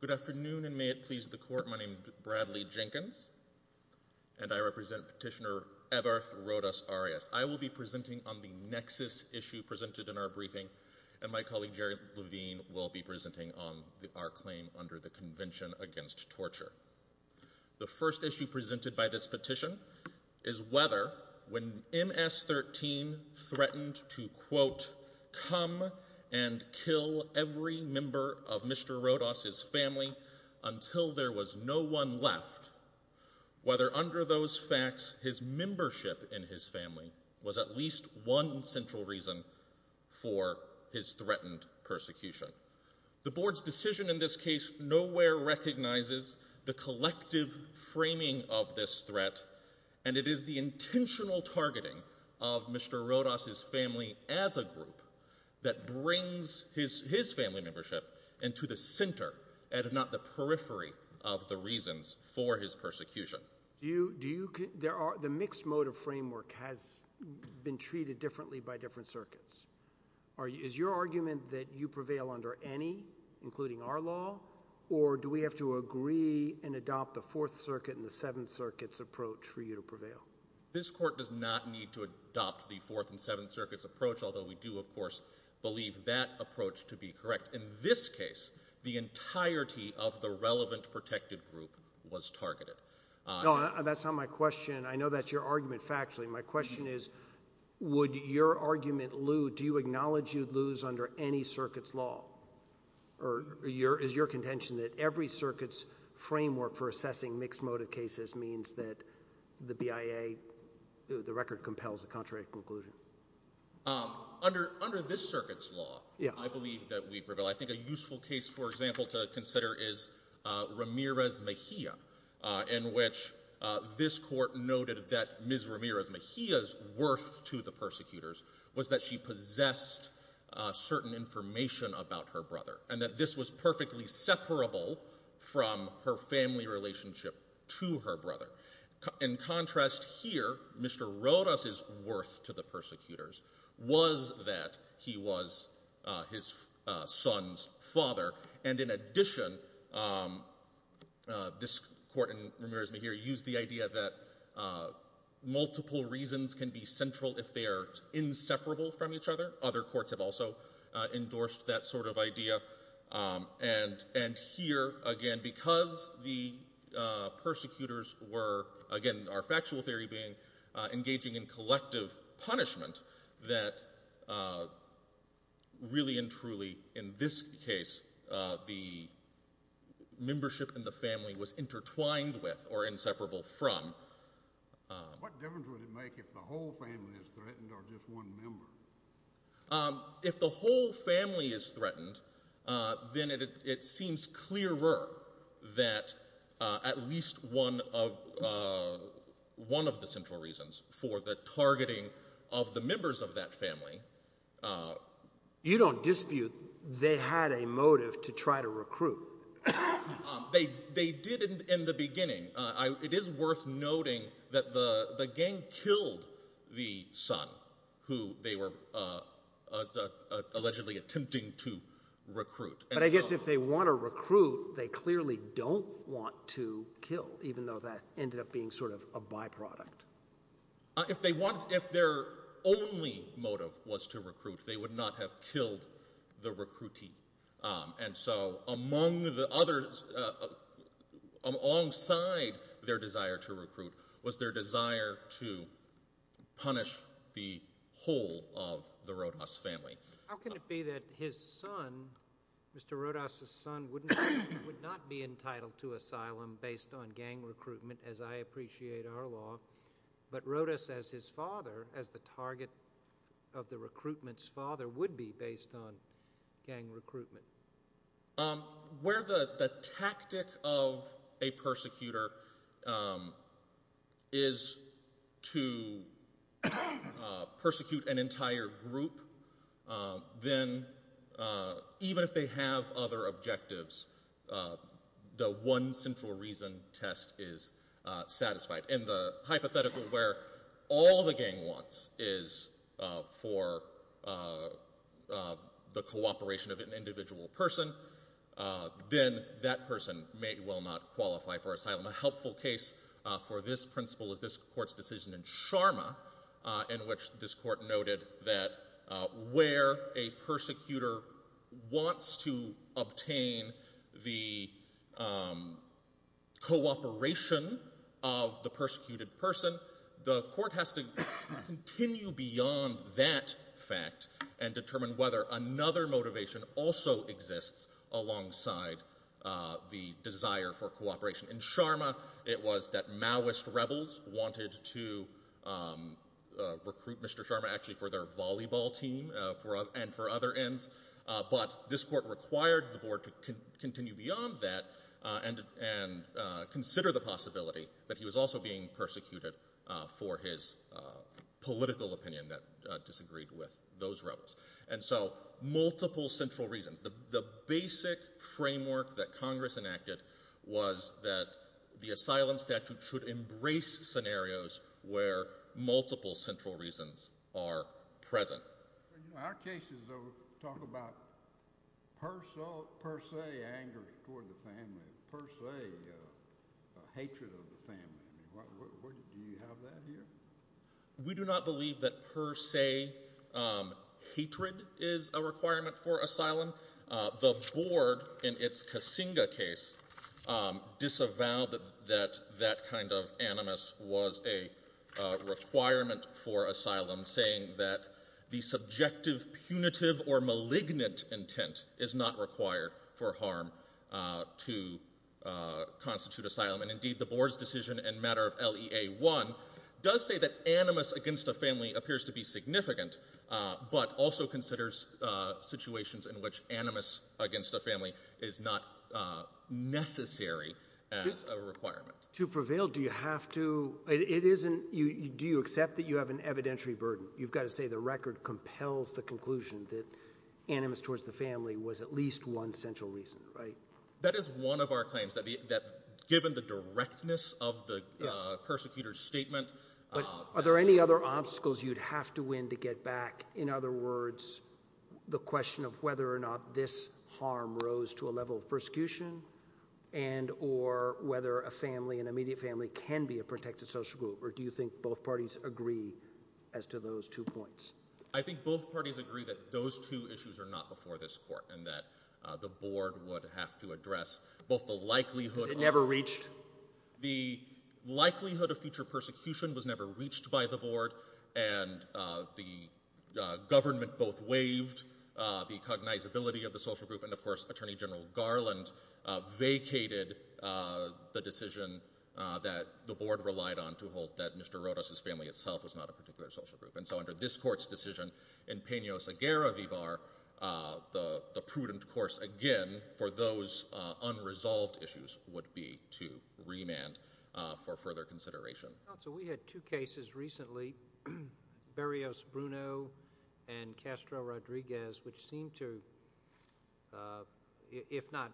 Good afternoon, and may it please the Court, my name is Bradley Jenkins, and I represent Petitioner Everth Rodas-Arias. I will be presenting on the Nexus issue presented in our briefing, and my colleague Jerry Levine will be presenting on our claim under the Convention Against Torture. The first issue presented by this petition is whether, when MS-13 threatened to, quote, come and kill every member of Mr. Rodas's family until there was no one left, whether under those facts his membership in his family was at least one central reason for his threatened persecution. The Board's decision in this case nowhere recognizes the collective framing of this threat, and it is the intentional targeting of Mr. Rodas's family as a group that brings his family membership into the center, and not the periphery, of the reasons for his persecution. The mixed motive framework has been treated differently by different circuits. Is your argument that you prevail under any, including our law, or do we have to agree and adopt the Fourth Circuit and the Seventh Circuit's approach for you to prevail? This Court does not need to adopt the Fourth and Seventh Circuit's approach, although we do, of course, believe that approach to be correct. In this case, the entirety of the relevant protected group was targeted. No, that's not my question. I know that's your argument factually. My question is, would your argument, Lew, do you acknowledge you'd lose under any circuit's law, or is your contention that every circuit's framework for assessing mixed motive cases means that the BIA, the record compels a contrary conclusion? Under this circuit's law, I believe that we prevail. I think a useful case, for example, to consider is Ramirez Mejia, in which this Court noted that Ms. Ramirez Mejia's worth to the persecutors was that she possessed certain information about her brother, and that this was perfectly separable from her family relationship to her brother. In contrast here, Mr. Rodas' worth to the persecutors was that he was his son's father, and in addition, this Court in Ramirez Mejia used the idea that multiple reasons can be central if they are inseparable from each other. Other courts have also endorsed that sort of idea, and here, again, because the persecutors were, again, our factual theory being engaging in collective punishment, that really and the membership in the family was intertwined with, or inseparable from. What difference would it make if the whole family is threatened, or just one member? If the whole family is threatened, then it seems clearer that at least one of the central reasons for the targeting of the members of that family. You don't dispute they had a motive to try to recruit. They did in the beginning. It is worth noting that the gang killed the son who they were allegedly attempting to recruit. But I guess if they want to recruit, they clearly don't want to kill, even though that ended up being sort of a byproduct. If their only motive was to recruit, they would not have killed the recruitee. And so, alongside their desire to recruit was their desire to punish the whole of the Rodas family. How can it be that his son, Mr. Rodas' son, would not be entitled to asylum based on gang recruitment, but Rodas as his father, as the target of the recruitment's father, would be based on gang recruitment? Where the tactic of a persecutor is to persecute an entire group, then even if they have other objectives, the one central reason test is satisfied. In the hypothetical where all the gang wants is for the cooperation of an individual person, then that person may well not qualify for asylum. A helpful case for this principle is this court's decision in Sharma, in which this person, the court has to continue beyond that fact and determine whether another motivation also exists alongside the desire for cooperation. In Sharma, it was that Maoist rebels wanted to recruit Mr. Sharma actually for their volleyball team and for other ends, but this court required the board to continue beyond that and consider the possibility that he was also being persecuted for his political opinion that disagreed with those rebels. Multiple central reasons. The basic framework that Congress enacted was that the asylum statute should embrace scenarios where multiple central reasons are present. Our cases, though, talk about per se anger toward the family, per se hatred of the family. Do you have that here? We do not believe that per se hatred is a requirement for asylum. The board, in its Kasinga case, disavowed that that kind of animus was a requirement for asylum, saying that the subjective, punitive, or malignant intent is not required for harm to constitute asylum, and indeed the board's decision in matter of LEA-1 does say that animus against a family appears to be significant, but also considers situations in which animus against a family is not necessary as a requirement. To prevail, do you have to, it isn't, do you accept that you have an evidentiary burden? You've got to say the record compels the conclusion that animus towards the family was at least one central reason, right? That is one of our claims, that given the directness of the persecutor's statement. Are there any other obstacles you'd have to win to get back? In other words, the question of whether or not this harm rose to a level of persecution and or whether a family, an immediate family, can be a protected social group, or do you think both parties agree as to those two points? I think both parties agree that those two issues are not before this court, and that the board would have to address both the likelihood of... Because it never reached? The likelihood of future persecution was never reached by the board, and the government both waived the cognizability of the social group, and of course Attorney General Garland vacated the decision that the board relied on to hold that Mr. Rodas' family itself was not a particular social group. And so under this court's decision, in penios agaravivar, the prudent course again for those unresolved issues would be to remand for further consideration. Counsel, we had two cases recently, Barrios-Bruno and Castro-Rodriguez, which seem to, if not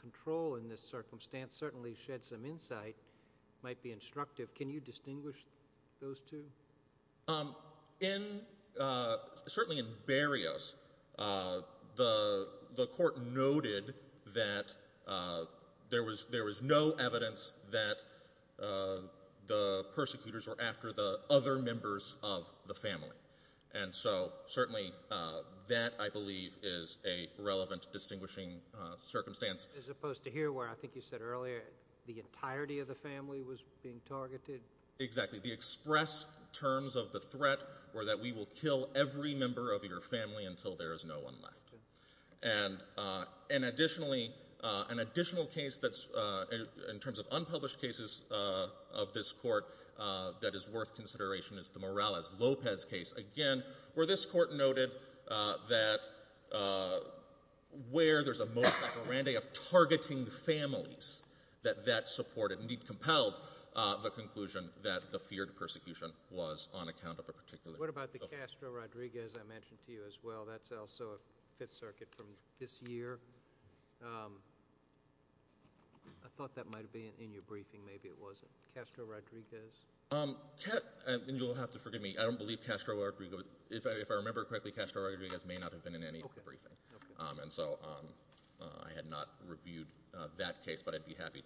control in this circumstance, certainly shed some insight, might be instructive. Can you distinguish those two? In, certainly in Barrios, the court noted that there was no evidence that the persecutors were after the other members of the family. And so certainly that, I believe, is a relevant distinguishing circumstance. As opposed to here where, I think you said earlier, the entirety of the family was being targeted? Exactly. The express terms of the threat were that we will kill every member of your family until there is no one left. And additionally, an additional case that's, in terms of unpublished cases of this court, that is worth consideration is the Morales-Lopez case, again, where this court noted that where there's a most apparent of targeting families, that that supported, indeed compelled, the feared persecution was on account of a particular... What about the Castro-Rodriguez I mentioned to you as well? That's also a Fifth Circuit from this year. I thought that might have been in your briefing. Maybe it wasn't. Castro-Rodriguez? And you'll have to forgive me. I don't believe Castro-Rodriguez, if I remember correctly, Castro-Rodriguez may not have been in any of the briefings. Okay, okay. And so I had not reviewed that case, but I'd be happy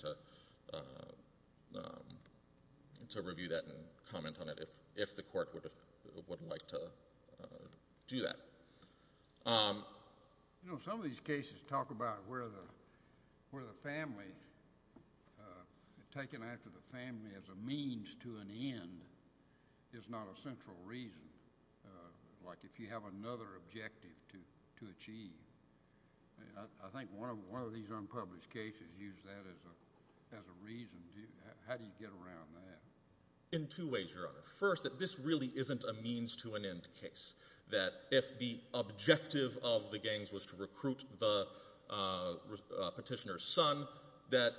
to review that and comment on it if the court would like to do that. You know, some of these cases talk about where the family, taking after the family as a means to an end, is not a central reason, like if you have another objective to achieve. I think one of these unpublished cases used that as a reason. How do you get around that? In two ways, Your Honor. First, that this really isn't a means to an end case. That if the objective of the gangs was to recruit the petitioner's son, that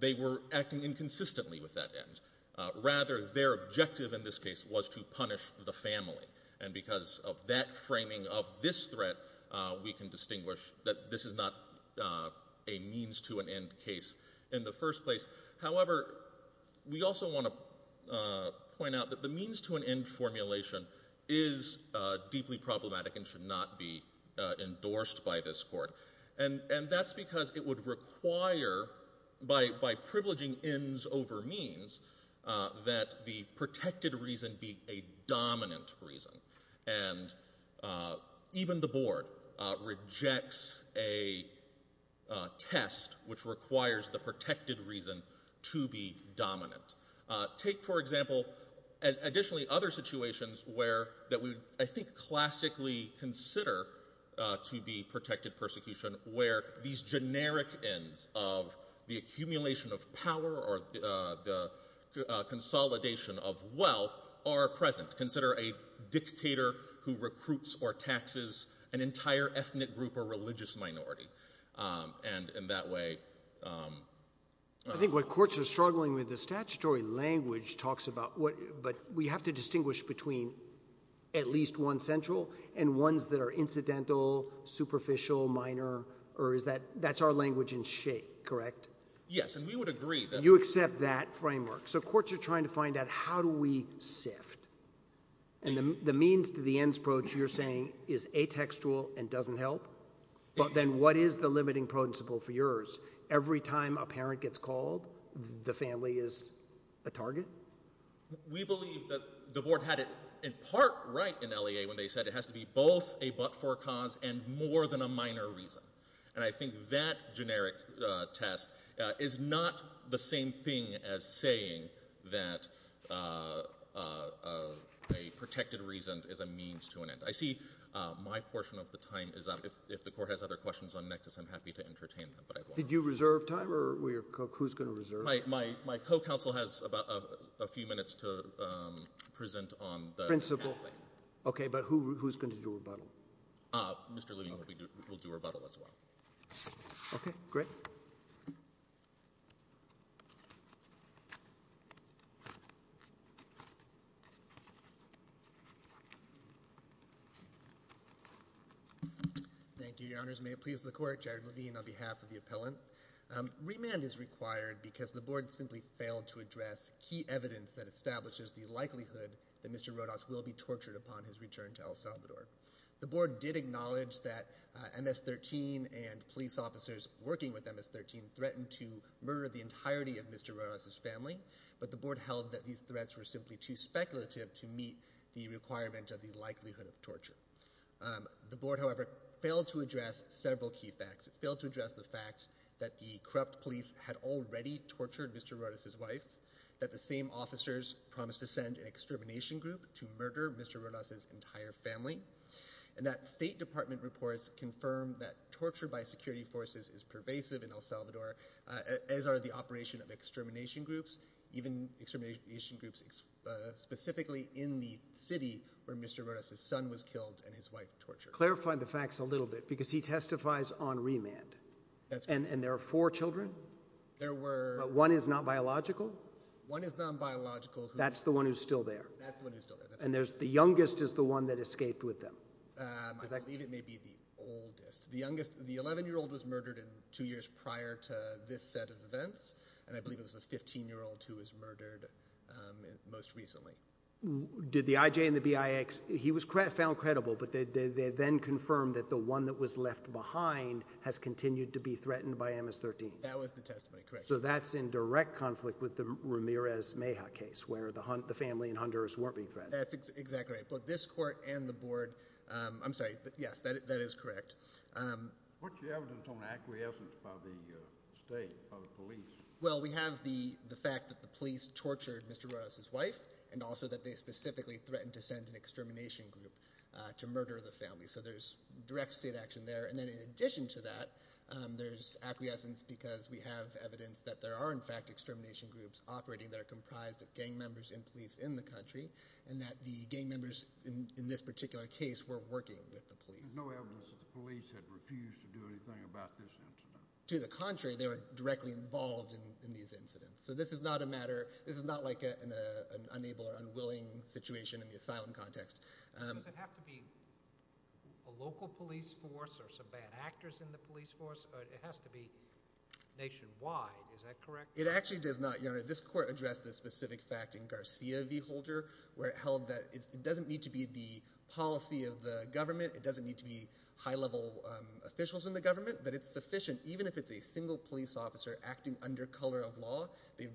they were rather their objective in this case was to punish the family. And because of that framing of this threat, we can distinguish that this is not a means to an end case in the first place. However, we also want to point out that the means to an end formulation is deeply problematic and should not be endorsed by this court. And that's because it would require, by privileging ends over means, that the protected reason be a dominant reason. And even the board rejects a test which requires the protected reason to be dominant. Take for example, additionally, other situations that we, I think, classically consider to be protected persecution, where these generic ends of the accumulation of power or the consolidation of wealth are present. Consider a dictator who recruits or taxes an entire ethnic group or religious minority. And in that way... I think what courts are struggling with, the statutory language talks about what... But we have to distinguish between at least one central and ones that are incidental, superficial, minor, or is that... That's our language in shape, correct? Yes, and we would agree that... You accept that framework. So courts are trying to find out how do we sift. And the means to the ends approach, you're saying, is atextual and doesn't help. But then what is the limiting principle for yours? Every time a parent gets called, the family is a target? We believe that the board had it in part right in LEA when they said it has to be both a but-for cause and more than a minor reason. And I think that generic test is not the same thing as saying that a protected reason is a means to an end. I see my portion of the time is up. If the court has other questions on Nectis, I'm happy to entertain them. Did you reserve time or who's going to reserve? My co-counsel has a few minutes to present on the... Principle. Okay, but who's going to do rebuttal? Mr. Levine will do rebuttal as well. Okay, great. Thank you, your honors. May it please the court. Jared Levine on behalf of the appellant. Remand is required because the board simply failed to address key evidence that establishes the likelihood that Mr. Rodas will be tortured upon his return to El Salvador. The board did acknowledge that MS-13 and police officers working with MS-13 threatened to murder the entirety of Mr. Rodas' family, but the board held that these threats were simply too speculative to meet the requirement of the likelihood of torture. The board, however, failed to address several key facts. Failed to address the fact that the corrupt police had already tortured Mr. Rodas' wife, that the same officers promised to send an extermination group to murder Mr. Rodas' entire family, and that state department reports confirmed that torture by security forces is pervasive in El Salvador, as are the operation of extermination groups, even extermination groups specifically in the city where Mr. Rodas' son was killed and his wife tortured. Clarify the facts a little bit, because he testifies on remand, and there are four children? There were... But one is not biological? One is non-biological. That's the one who's still there? That's the one who's still there. And the youngest is the one that escaped with them? I believe it may be the oldest. The 11-year-old was murdered two years prior to this set of events, and I believe it was the 15-year-old who was murdered most recently. Did the IJ and the BIX... He was found credible, but they then confirmed that the one that was left behind has continued to be threatened by MS-13? That was the testimony, correct. So that's in direct conflict with the Ramirez-Meja case, where the family in Honduras weren't being threatened? That's exactly right. Both this court and the board... I'm sorry, yes, that is correct. What's the evidence on acquiescence by the state, by the police? Well, we have the fact that the police tortured Mr. Rodas' wife, and also that they specifically threatened to send an extermination group to murder the family. So there's direct state action there. And then in addition to that, there's acquiescence because we have evidence that there are, in fact, extermination groups operating that are comprised of gang members and police in the country, and that the gang members in this particular case were working with the police. There's no evidence that the police had refused to do anything about this incident? To the contrary, they were directly involved in these incidents. So this is not a matter... This is not like an unable or unwilling situation in the asylum context. Does it have to be a local police force or some bad actors in the police force? It has to be nationwide, is that correct? It actually does not, Your Honor. This court addressed this specific fact in Garcia v. Holder, where it held that it doesn't need to be the policy of the government, it doesn't need to be high-level officials in the government, but it's sufficient even if it's a single police officer acting under color of law. The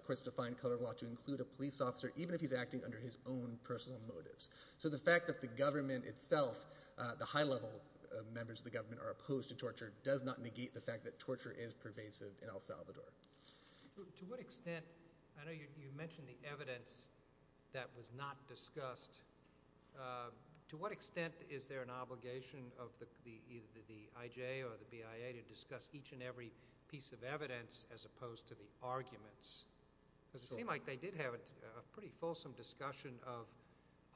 court has defined color of law to include a police officer even if he's acting under his own personal motives. So the fact that the government itself, the high-level members of the government, are opposed to torture does not negate the fact that torture is pervasive in El Salvador. To what extent... I know you mentioned the evidence that was not discussed. To what extent is there an obligation of either the IJ or the BIA to discuss each and every piece of evidence as opposed to the arguments? Because it seemed like they did have a pretty fulsome discussion of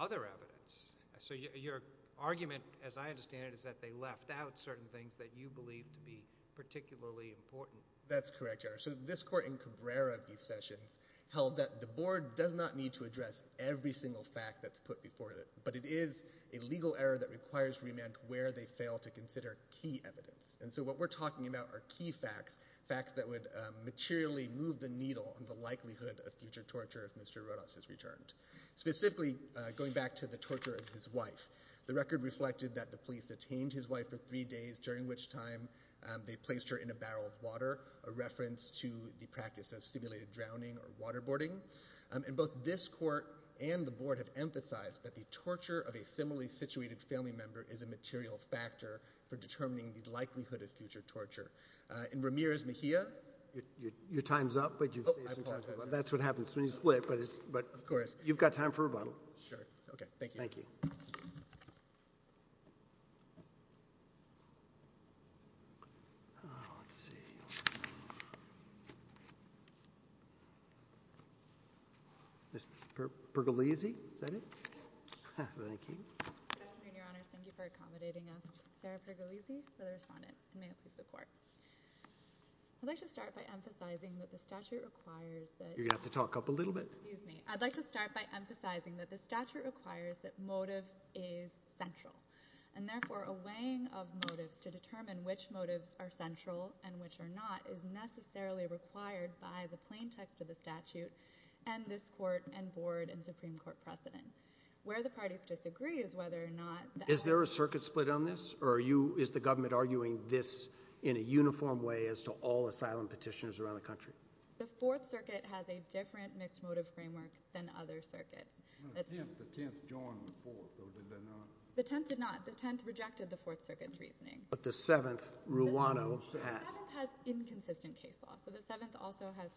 other evidence. So your argument, as I understand it, is that they left out certain things that you believe to be particularly important. That's correct, Your Honor. So this court in Cabrera v. Sessions held that the board does not need to address every single fact that's put before it, but it is a legal error that requires remand where they fail to consider key evidence. And so what we're talking about are key facts, facts that would materially move the needle on the likelihood of future torture if Mr. Rodas is returned. Specifically, going back to the torture of his wife, the record reflected that the police detained his wife for three days, during which time they placed her in a barrel of water, a reference to the practice of simulated drowning or waterboarding. And both this court and the board have emphasized that the torture of a similarly-situated family member is a material factor for determining the likelihood of future torture. And Ramirez Mejia? Your time's up, but that's what happens when you split. But of course, you've got time for rebuttal. Sure. Okay, thank you. Thank you. Ms. Pergolesi, is that it? Thank you. Good afternoon, Your Honors. Thank you for accommodating us. Sarah Pergolesi, for the respondent, and may it please the court. I'd like to start by emphasizing that the statute requires that— You're going to have to talk up a little bit. Excuse me. I'd like to start by emphasizing that the statute requires that motive is central. And therefore, a weighing of motives to determine which motives are central and which are not is necessarily required by the plain text of the statute and this court and board and Supreme Court precedent. Where the parties disagree is whether or not— Is there a circuit split on this? Or is the government arguing this in a uniform way as to all asylum petitioners around the country? The Fourth Circuit has a different mixed motive framework than other circuits. The Tenth joined the Fourth, or did they not? The Tenth did not. The Tenth rejected the Fourth Circuit's reasoning. But the Seventh, Ruano, has. The Seventh has inconsistent case law. So the Seventh also has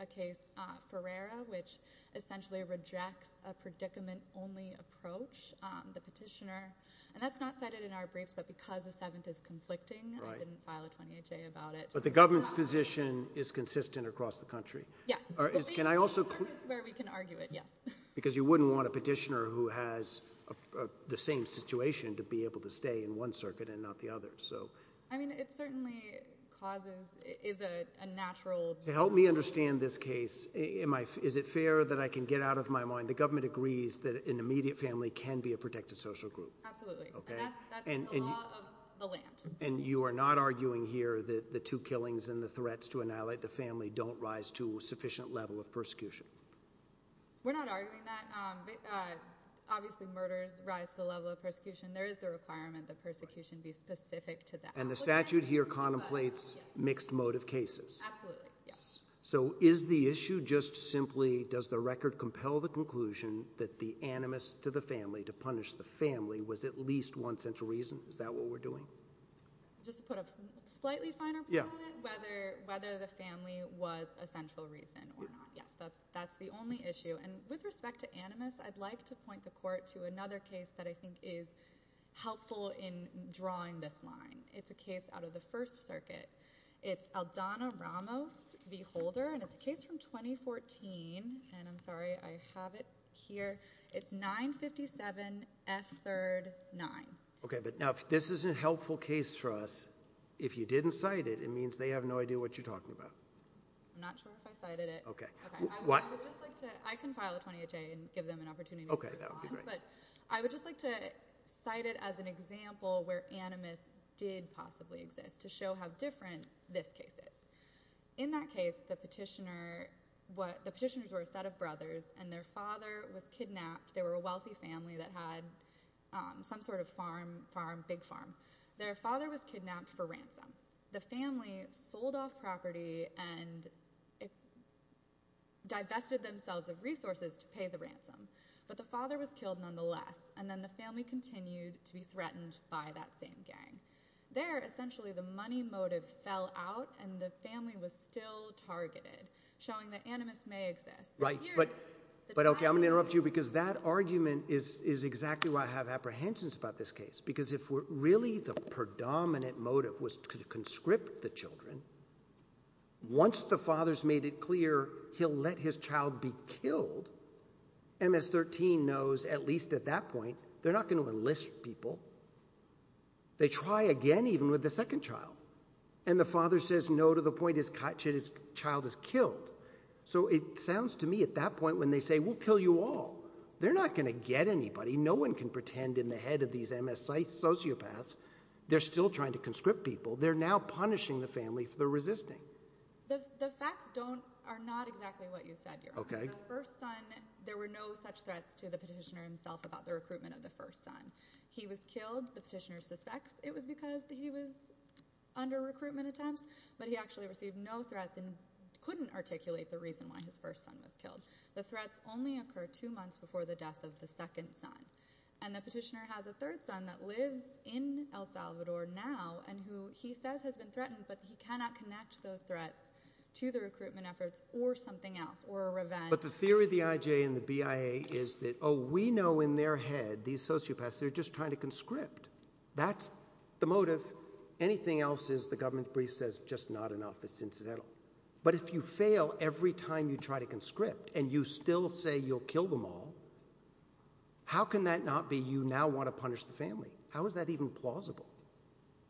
a case, Ferreira, which essentially rejects a predicament-only approach. The petitioner—and that's not cited in our briefs, but because the Seventh is conflicting, I didn't file a 28-J about it. But the government's position is consistent across the country? Yes. Can I also— It's where we can argue it, yes. Because you wouldn't want a petitioner who has the same situation to be able to stay in one circuit and not the other. I mean, it certainly causes—is a natural— To help me understand this case, is it fair that I can get out of my mind, the government agrees that an immediate family can be a protected social group. Absolutely. And that's the law of the land. And you are not arguing here that the two killings and the threats to annihilate the family don't rise to a sufficient level of persecution? Obviously, murders rise to the level of persecution. There is the requirement that persecution be specific to that. And the statute here contemplates mixed motive cases? Absolutely, yes. So is the issue just simply, does the record compel the conclusion that the animus to the family, to punish the family, was at least one central reason? Is that what we're doing? Just to put a slightly finer point on it? Whether the family was a central reason or not. Yes, that's the only issue. And with respect to animus, I'd like to point the court to another case that I think is helpful in drawing this line. It's a case out of the First Circuit. It's Aldana Ramos v. Holder, and it's a case from 2014. And I'm sorry, I have it here. It's 957 F3rd 9. Okay, but now, if this is a helpful case for us, if you didn't cite it, it means they have no idea what you're talking about. I'm not sure if I cited it. Okay. I can file a 20HA and give them an opportunity to respond. Okay, that would be great. But I would just like to cite it as an example where animus did possibly exist to show how different this case is. In that case, the petitioners were a set of brothers, and their father was kidnapped. They were a wealthy family that had some sort of farm, big farm. Their father was kidnapped for ransom. The family sold off property and divested themselves of resources to pay the ransom, but the father was killed nonetheless, and then the family continued to be threatened by that same gang. There, essentially, the money motive fell out, and the family was still targeted, showing that animus may exist. Right, but okay, I'm going to interrupt you because that argument is exactly why I have apprehensions about this case because if really the predominant motive was to conscript the children, once the father's made it clear he'll let his child be killed, MS-13 knows at least at that point they're not going to enlist people. They try again even with the second child, and the father says no to the point his child is killed. So it sounds to me at that point when they say, we'll kill you all, they're not going to get anybody. No one can pretend in the head of these MS-site sociopaths they're still trying to conscript people. They're now punishing the family for their resisting. The facts are not exactly what you said, Your Honor. The first son, there were no such threats to the petitioner himself about the recruitment of the first son. He was killed, the petitioner suspects, it was because he was under recruitment attempts, but he actually received no threats and couldn't articulate the reason why his first son was killed. The threats only occur two months before the death of the second son. And the petitioner has a third son that lives in El Salvador now and who he says has been threatened, but he cannot connect those threats to the recruitment efforts or something else, or a revenge. But the theory of the IJ and the BIA is that, oh, we know in their head these sociopaths, they're just trying to conscript. That's the motive. Anything else is, the government brief says, just not enough, it's incidental. But if you fail every time you try to conscript and you still say you'll kill them all, how can that not be you now want to punish the family? How is that even plausible?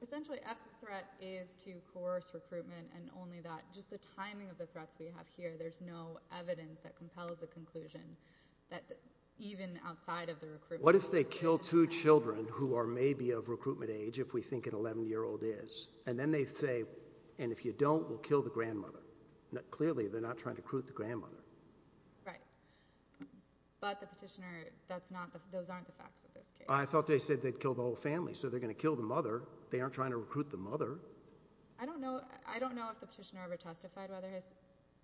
Essentially, if the threat is to coerce recruitment and only that, just the timing of the threats we have here, there's no evidence that compels the conclusion that even outside of the recruitment... What if they kill two children who are maybe of recruitment age if we think an 11-year-old is, and then they say, and if you don't, we'll kill the grandmother. Clearly, they're not trying to recruit the grandmother. Right. But the petitioner, those aren't the facts of this case. I thought they said they'd kill the whole family, so they're going to kill the mother. They aren't trying to recruit the mother. I don't know if the petitioner ever testified whether his...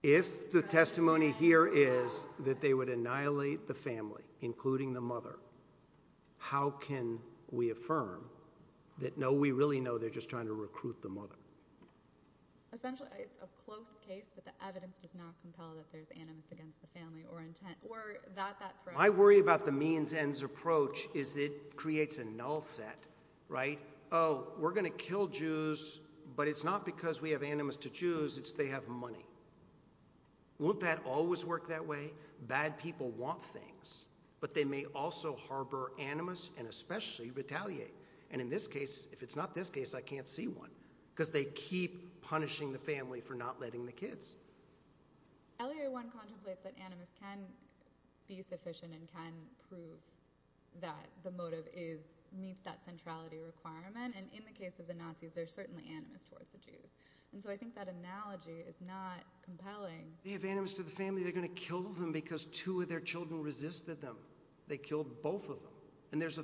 If the testimony here is that they would annihilate the family, including the mother, how can we affirm that, no, we really know they're just trying to recruit the mother? Essentially, it's a close case, but the evidence does not compel that there's animus against the family or intent, or that that threat... My worry about the means-ends approach is it creates a null set, right? Oh, we're going to kill Jews, but it's not because we have animus to Jews, it's they have money. Won't that always work that way? Bad people want things, but they may also harbour animus and especially retaliate. In this case, if it's not this case, I can't see one, because they keep punishing the family for not letting the kids. L.A. 1 contemplates that animus can be sufficient and can prove that the motive meets that centrality requirement, and in the case of the Nazis, there's certainly animus towards the Jews. I think that analogy is not compelling. If they have animus to the family, they're going to kill them because two of their children resisted them. They killed both of them. And there's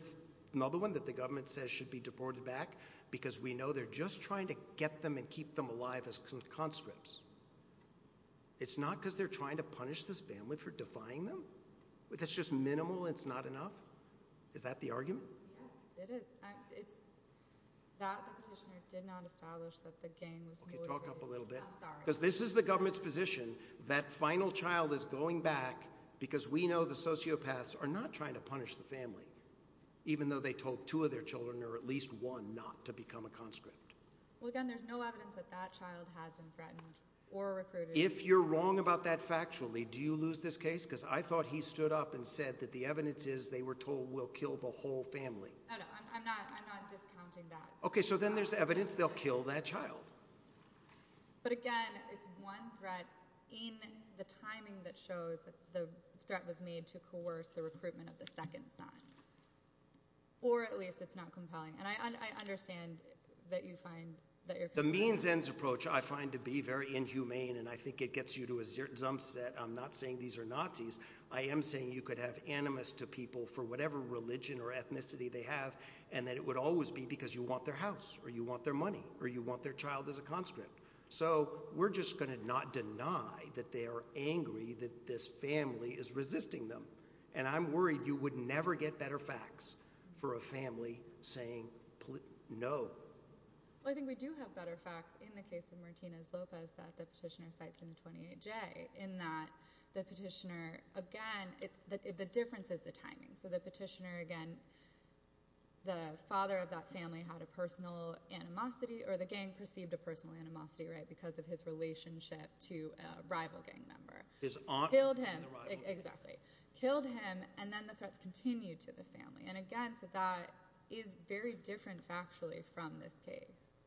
another one that the government says should be deported back because we know they're just trying to get them and keep them alive as conscripts. It's not because they're trying to punish this family for defying them? That's just minimal and it's not enough? Is that the argument? Yes, it is. It's that the petitioner did not establish that the gang was motivated. Because this is the government's position that final child is going back because we know the sociopaths are not trying to punish the family even though they told two of their children or at least one not to become a conscript. Well, again, there's no evidence that that child has been threatened or recruited. If you're wrong about that factually, do you lose this case? Because I thought he stood up and said that the evidence is they were told we'll kill the whole family. I'm not discounting that. Okay, so then there's evidence they'll kill that child. But again, it's one threat in the timing that shows that the threat was made to coerce the recruitment of the second son. Or at least it's not compelling. And I understand that you find that you're... The means-ends approach I find to be very inhumane and I think it gets you to a jump set. I'm not saying these are Nazis. I am saying you could have animus to people for whatever religion or ethnicity they have and that it would always be because you want their house or you want their money or you want their child as a conscript. So we're just going to not deny that they are angry that this family is resisting them. And I'm worried you would never get better facts for a family saying no. I think we do have better facts in the case of Martinez-Lopez that the petitioner cites in 28J in that the petitioner again, the difference is the timing. So the petitioner again, the father of that family had a personal animosity or the gang perceived a personal animosity because of his relationship to a rival gang member. Killed him. Killed him and then the threats continued to the family. And again, so that is very different factually from this case.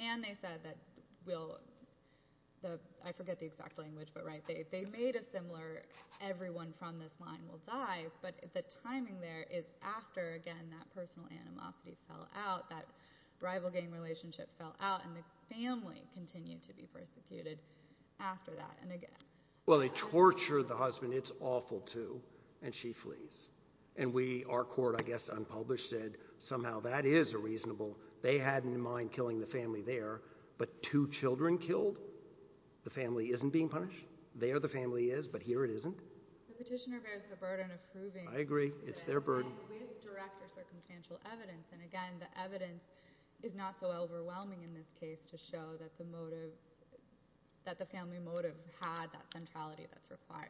And they said that I forget the exact language but they made a similar everyone from this line will die but the timing there is after again that personal animosity fell out, that rival gang relationship fell out and the family continued to be persecuted after that and again. Well they tortured the husband, it's awful too and she flees. And we, our court I guess unpublished said somehow that is a reasonable they had in mind killing the family there but two children killed the family isn't being punished. There the family is but here it isn't. The petitioner bears the burden of proving I agree, it's their burden with direct or circumstantial evidence and again the evidence is not so overwhelming in this case to show that the motive that the family motive had that centrality that's required.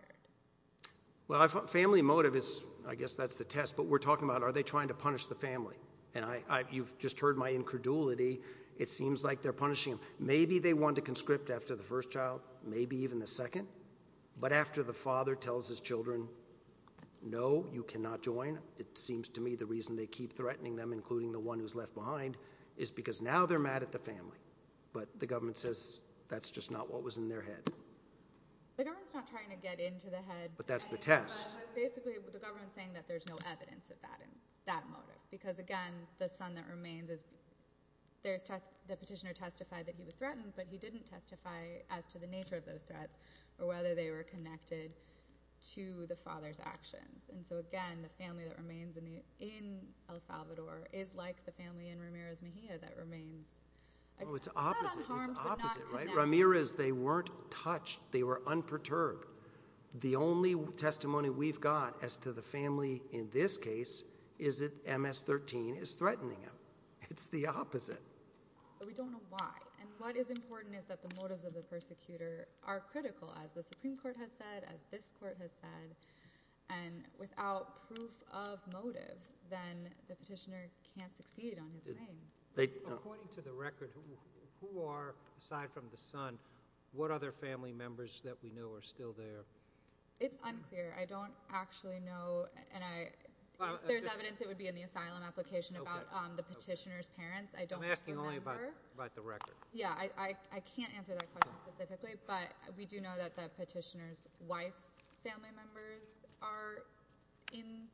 Well I thought family motive is, I guess that's the test but we're talking about are they trying to punish the family and I, you've just heard my incredulity, it seems like they're punishing maybe they want to conscript after the first child, maybe even the second but after the father tells his children no you cannot join, it seems to me the reason they keep threatening them including the one who's left behind is because now they're mad at the family but the government says that's just not what was in their head. The government's not trying to get into the head, but that's the test basically the government's saying that there's no evidence of that motive because again the son that remains is there's test, the petitioner testified that he was threatened but he didn't testify as to the nature of those threats or whether they were connected to the father's actions and so again the family that remains in El Salvador is like the family in Ramirez Mejia that remains Oh it's opposite Ramirez they weren't touched, they were unperturbed the only testimony we've got as to the family in this case is that MS-13 is threatening them, it's the opposite. We don't know why and what is important is that the motives of the persecutor are critical as the Supreme Court has said, as this court has said and without proof of motive then the petitioner can't succeed on his claim. According to the record who are, aside from the son, what other family members that we know are still there? It's unclear, I don't actually know and I if there's evidence it would be in the asylum application about the petitioner's parents I'm asking only about the record Yeah I can't answer that question specifically but we do know that the petitioner's wife's family members are in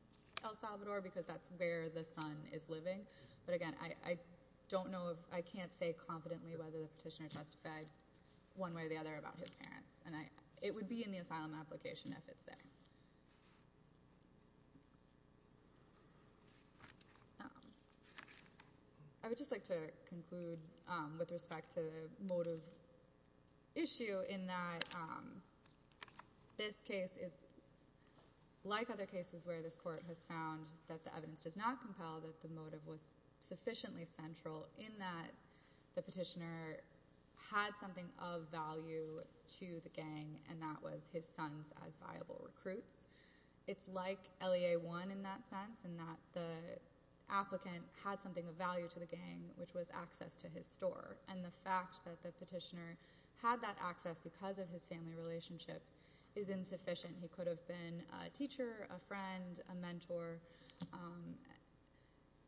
El Salvador because that's where the son is living but again I don't know, I can't say confidently whether the petitioner justified one way or the other about his parents and it would be in the asylum application if it's there I would just like to conclude with respect to the motive issue in that this case is like other cases where this court has found that the evidence does not compel that the motive was sufficiently central in that the petitioner had something of value to the gang and that was his son's as viable recruiter. It's like LEA 1 in that sense in that the applicant had something of value to the gang which was access to his store and the fact that the petitioner had that access because of his family relationship is insufficient he could have been a teacher, a friend a mentor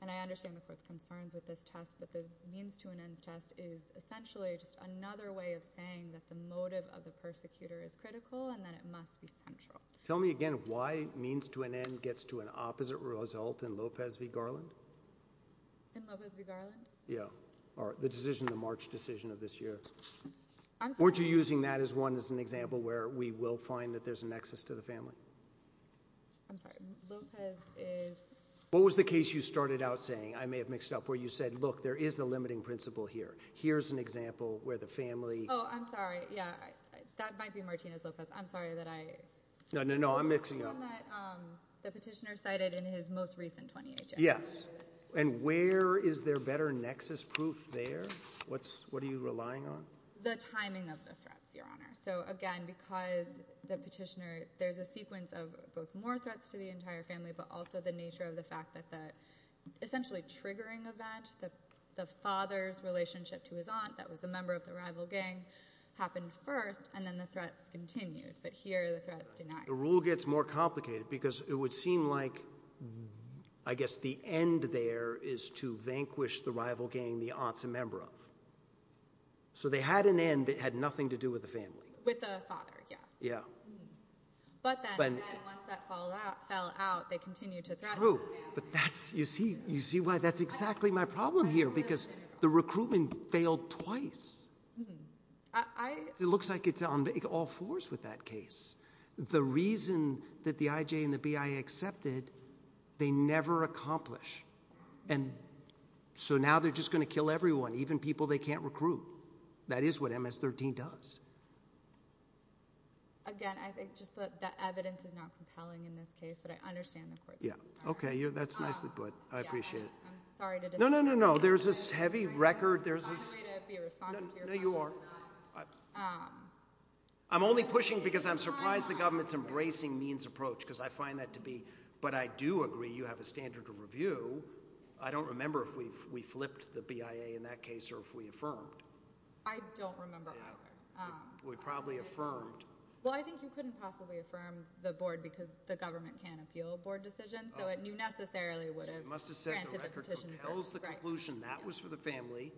and I understand the court's concerns with this test but the means to an ends test is essentially just another way of saying that the motive of the persecutor is critical and that it must be central. Tell me again why means to an end gets to an opposite result in Lopez v. Garland? In Lopez v. Garland? Yeah, or the decision, the March decision of this year. Weren't you using that as one as an example where we will find that there's a nexus to the family? I'm sorry Lopez is... What was the case you started out saying, I may have mixed it up, where you said look there is a limiting principle here. Here's an example where the family... Oh I'm sorry, yeah that might be Martinez Lopez, I'm sorry that I... No, no, no, I'm mixing up the petitioner cited in his most recent 20H. Yes and where is there better nexus proof there? What's what are you relying on? The timing of the threats, your honor. So again because the petitioner, there's a sequence of both more threats to the entire family but also the nature of the fact that the essentially triggering event, the father's relationship to his aunt that was a member of the rival gang happened first and then the threats continued but here the threats denied. The rule gets more complicated because it would seem like I guess the end there is to vanquish the rival gang the aunt's a member of. So they had an end that had nothing to do with the family. With the father yeah. Yeah. But then once that fell out they continued to threaten the family. True but that's, you see, you see why that's exactly my problem here because the recruitment failed twice. It looks like it's on all fours with that case. The reason that the IJ and the BI accepted they never accomplish and so now they're just going to kill everyone, even people they can't recruit. That is what MS-13 does. Again, I think just that the evidence is not compelling in this case but I understand the court's case. Yeah. Okay, that's nicely put. I appreciate it. I'm sorry to know there's this heavy record. There's no, you are. I'm only pushing because I'm surprised the government embracing means approach because I find that to be but I do agree you have a standard of review. I don't remember if we flipped the BIA in that case or if we affirmed. I don't remember. We probably affirmed. Well, I think you couldn't possibly affirm the board because the government can appeal board decisions so it knew necessarily would have granted the petition. That was for the family.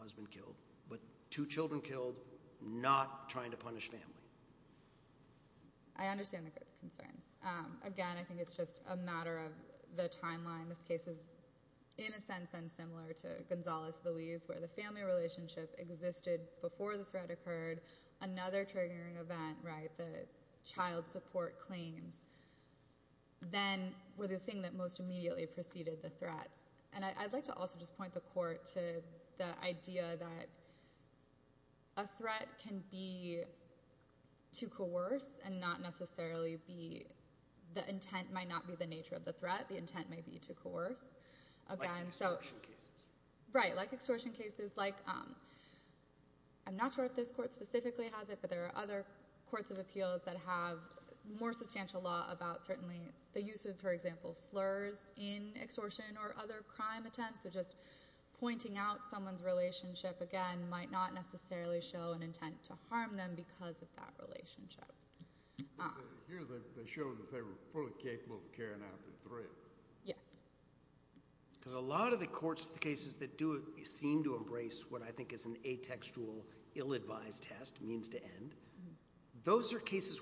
Husband killed but two children killed, not trying to punish family. I understand the concerns. Again, I think it's just a matter of the timeline. This case is in a sense then similar to Gonzales-Veliz where the family relationship existed before the threat occurred, another triggering event, right, the child support claims. Then the thing that most immediately preceded the threats. I'd like to also just point the court to the idea that a threat can be to coerce and not necessarily be the intent might not be the nature of the threat. The intent may be to coerce. Like extortion cases. Right, like extortion cases. I'm not sure if this court specifically has it but there are other courts of appeals that have more substantial law about certainly the use of, for example, slurs in extortion or other crime attempts. Pointing out someone's relationship again might not necessarily show an intent to harm them because of that relationship. Here they show that they were fully capable of carrying out the threat. Yes. A lot of the courts, the cases that do seem to embrace what I think is an atextual ill-advised test, means to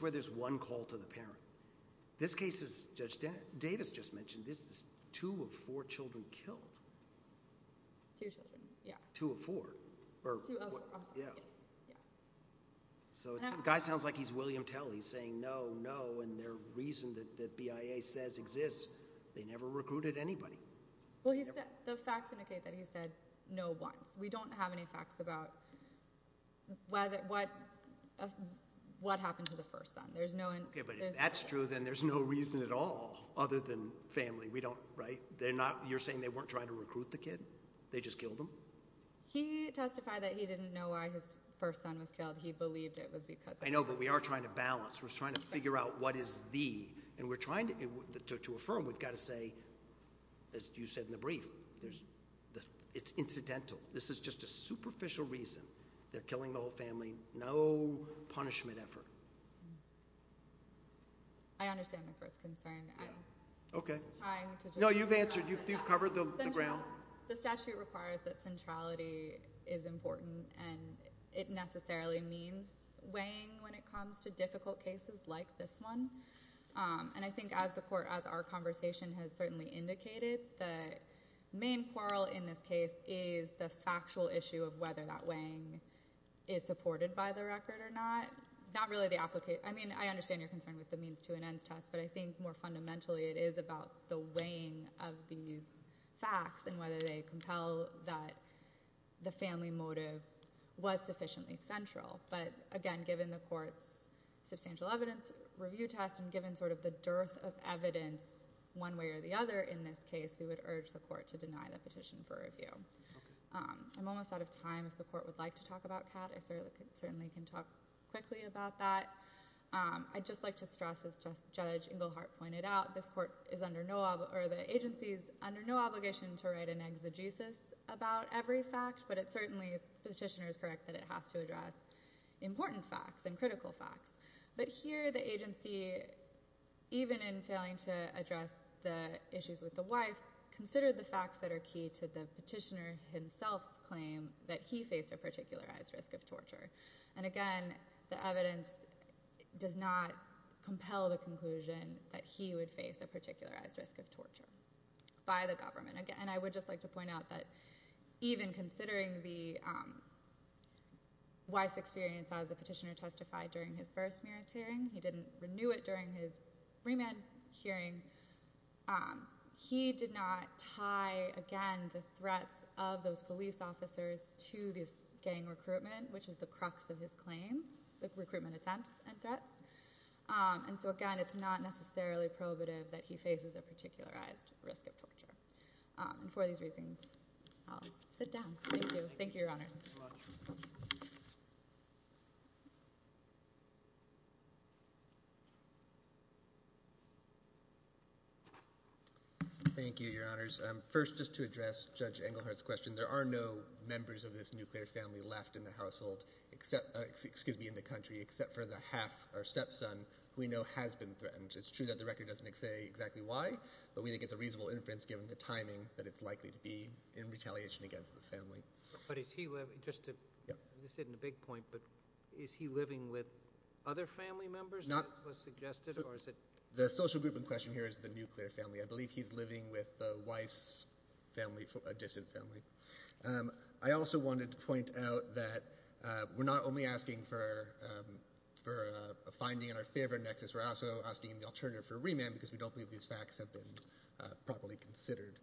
where there's one call to the parent. This case, as Judge Davis just mentioned, this is two of four children killed. Two children, yeah. Two of four. Two of four, I'm sorry. So the guy sounds like he's William Tell. He's saying no, no, and their reason that BIA says exists, they never recruited anybody. The facts indicate that he said no once. We don't have any facts about what happened to the first son. If that's true, then there's no reason at all other than family. You're saying they weren't trying to recruit the kid? They just killed him? He testified that he didn't know why his first son was killed. He believed it was because... I know, but we are trying to balance. We're trying to figure out what is the... To affirm, we've got to say, as you said in the brief, it's incidental. This is just a superficial reason. They're killing the whole family. No punishment effort. I understand the Court's concern. Okay. No, you've answered. You've covered the ground. The statute requires that centrality is important and it necessarily means weighing when it comes to difficult cases like this one. I think as the Court, as our conversation has certainly indicated, the main quarrel in this case is the factual issue of whether that weighing is supported by the record or not. I understand your concern with the means to and ends test, but I think more fundamentally it is about the weighing of these facts and whether they compel that the family motive was sufficiently central. But again, given the Court's substantial evidence review test and given the dearth of evidence one way or the other in this case, we would urge the Court to deny the petition for review. I'm almost out of time if the Court would like to talk about CAT. I certainly can talk quickly about that. I'd just like to stress as Judge Engelhardt pointed out, this Court is under no obligation to write an exegesis about every fact, but certainly the petitioner is correct that it has to address important facts and critical facts. But here the agency, even in failing to address the issues with the wife, considered the facts that are key to the petitioner himself's claim that he faced a particularized risk of torture. And again, the evidence does not compel the conclusion that he would face a particularized risk of torture by the government. And I would just like to point out that even considering the wife's experience as the petitioner testified during his first merits hearing, he didn't renew it during his remand hearing, he did not tie, again, the threats of those police officers to this gang recruitment, which is the crux of his claim, the recruitment attempts and threats. And so again, it's not necessarily probative that he faces a particularized risk of torture. And for these reasons, I'll sit down. Thank you. Thank you, Your Honors. Thank you, Your Honors. First, just to address Judge Engelhardt's question, there are no members of this nuclear family left in the household, excuse me, in the country, except for the half, our stepson, who we know has been threatened. It's true that the record doesn't say exactly why, but we think it's a reasonable inference given the timing that it's likely to be in retaliation against the family. But is he, just to, this isn't a big point, but is he living with other family members as was suggested, or is it... The social group in question here is the nuclear family. I believe he's living with the Weiss family, a distant family. I also wanted to point out that we're not only asking for a finding in our favor in Nexus, we're also asking the alternative for remand because we don't believe these facts have been properly considered.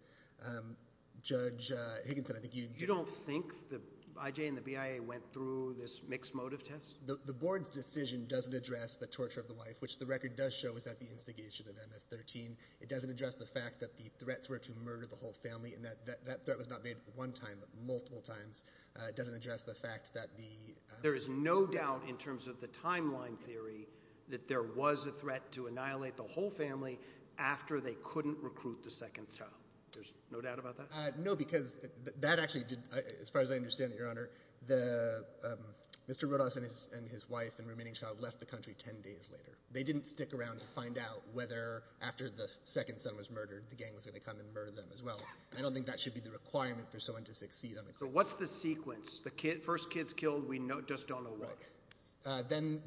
Judge Higginson, I think you... You don't think that IJ and the BIA went through this mixed motive test? The board's decision doesn't address the torture of the wife, which the record does show is at the instigation of MS-13. It doesn't address the fact that the threats were to murder the whole family, and that threat was not made one time, but multiple times. It doesn't address the fact that the... There is no doubt in terms of the timeline theory that there was a threat to annihilate the whole family after they couldn't recruit the second child. There's no doubt about that? No, because that actually did, as far as I understand it, Your Honor, Mr. Rodas and his family. They didn't stick around to find out whether, after the second son was murdered, the gang was going to come and murder them as well. I don't think that should be the requirement for someone to succeed. So what's the sequence? The first kid's killed, we just don't know why. Then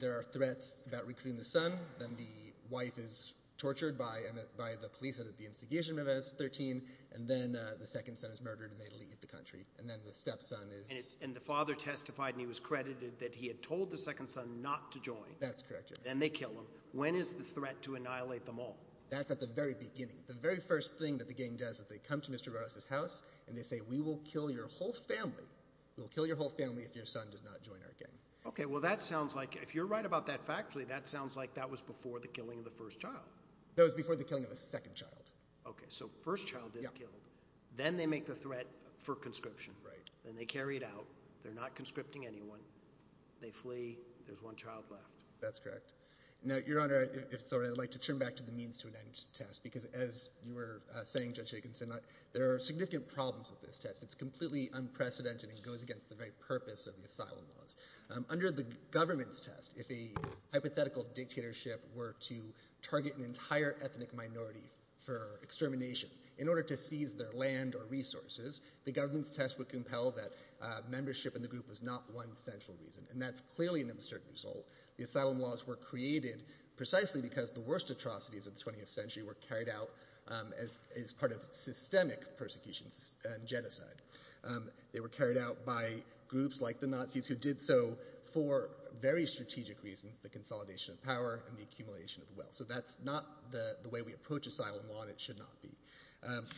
there are threats about recruiting the son, then the wife is tortured by the police at the instigation of MS-13, and then the second son is murdered and they leave the country. And then the stepson is... And the father testified, and he was credited, that he had told the second son not to join. That's correct, Your Honor. Then they kill him. When is the threat to annihilate them all? That's at the very beginning. The very first thing that the gang does is they come to Mr. Rodas' house and they say, we will kill your whole family. We will kill your whole family if your son does not join our gang. Okay, well that sounds like, if you're right about that factually, that sounds like that was before the killing of the first child. That was before the killing of the second child. Okay, so first child is killed. Then they make the threat for conscription. Right. Then they carry it out. They're not conscripting anyone. They flee. There's one child left. That's correct. Now, Your Honor, if it's all right, I'd like to turn back to the means to an end test, because as you were saying, Judge Jacobson, there are significant problems with this test. It's completely unprecedented and goes against the very purpose of the asylum laws. Under the government's test, if a hypothetical dictatorship were to target an entire ethnic minority for extermination in order to seize their land or resources, the government's test would compel that membership in the group was not one central reason. And that's clearly an uncertain result. The asylum laws were created precisely because the worst atrocities of the 20th century were carried out as part of systemic persecution and genocide. They were carried out by groups like the Nazis who did so for very strategic reasons, the consolidation of power and the accumulation of wealth. So that's not the way we approach asylum law, and it should not be.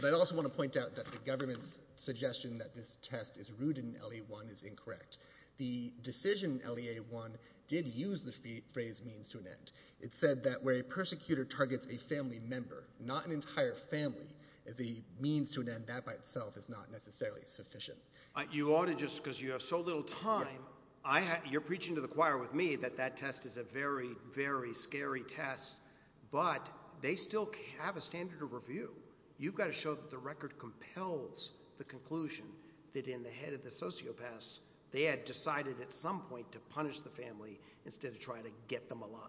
But I also want to say that the claim that the test is rooted in LEA 1 is incorrect. The decision in LEA 1 did use the phrase means to an end. It said that where a persecutor targets a family member, not an entire family, the means to an end, that by itself is not necessarily sufficient. You ought to just, because you have so little time, you're preaching to the choir with me that that test is a very, very scary test, but they still have a standard of review. You've got to show that the record compels the conclusion that in the head of the sociopaths they had decided at some point to punish the family instead of try to get them alive.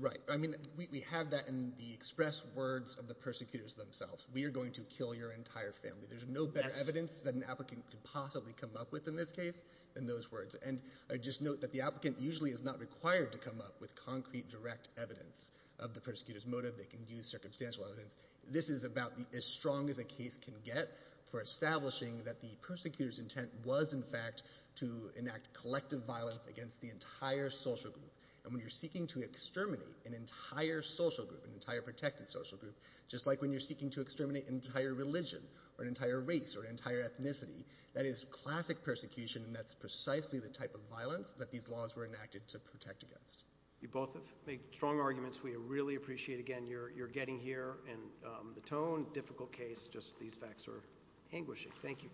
Right. I mean, we have that in the express words of the persecutors themselves. We are going to kill your entire family. There's no better evidence that an applicant could possibly come up with in this case than those words. And I just note that the applicant usually is not required to come up with concrete direct evidence of the persecutor's motive. They can use circumstantial evidence. This is about as strong as a case can get for establishing that the persecutor's intent was, in fact, to enact collective violence against the entire social group. And when you're seeking to exterminate an entire social group, an entire protected social group, just like when you're seeking to exterminate an entire religion, or an entire race, or an entire ethnicity, that is classic persecution, and that's precisely the type of violence that these laws were enacted to protect against. You both have made strong arguments. We really appreciate again your getting here, and the tone, difficult case, just these facts are anguishing. Thank you.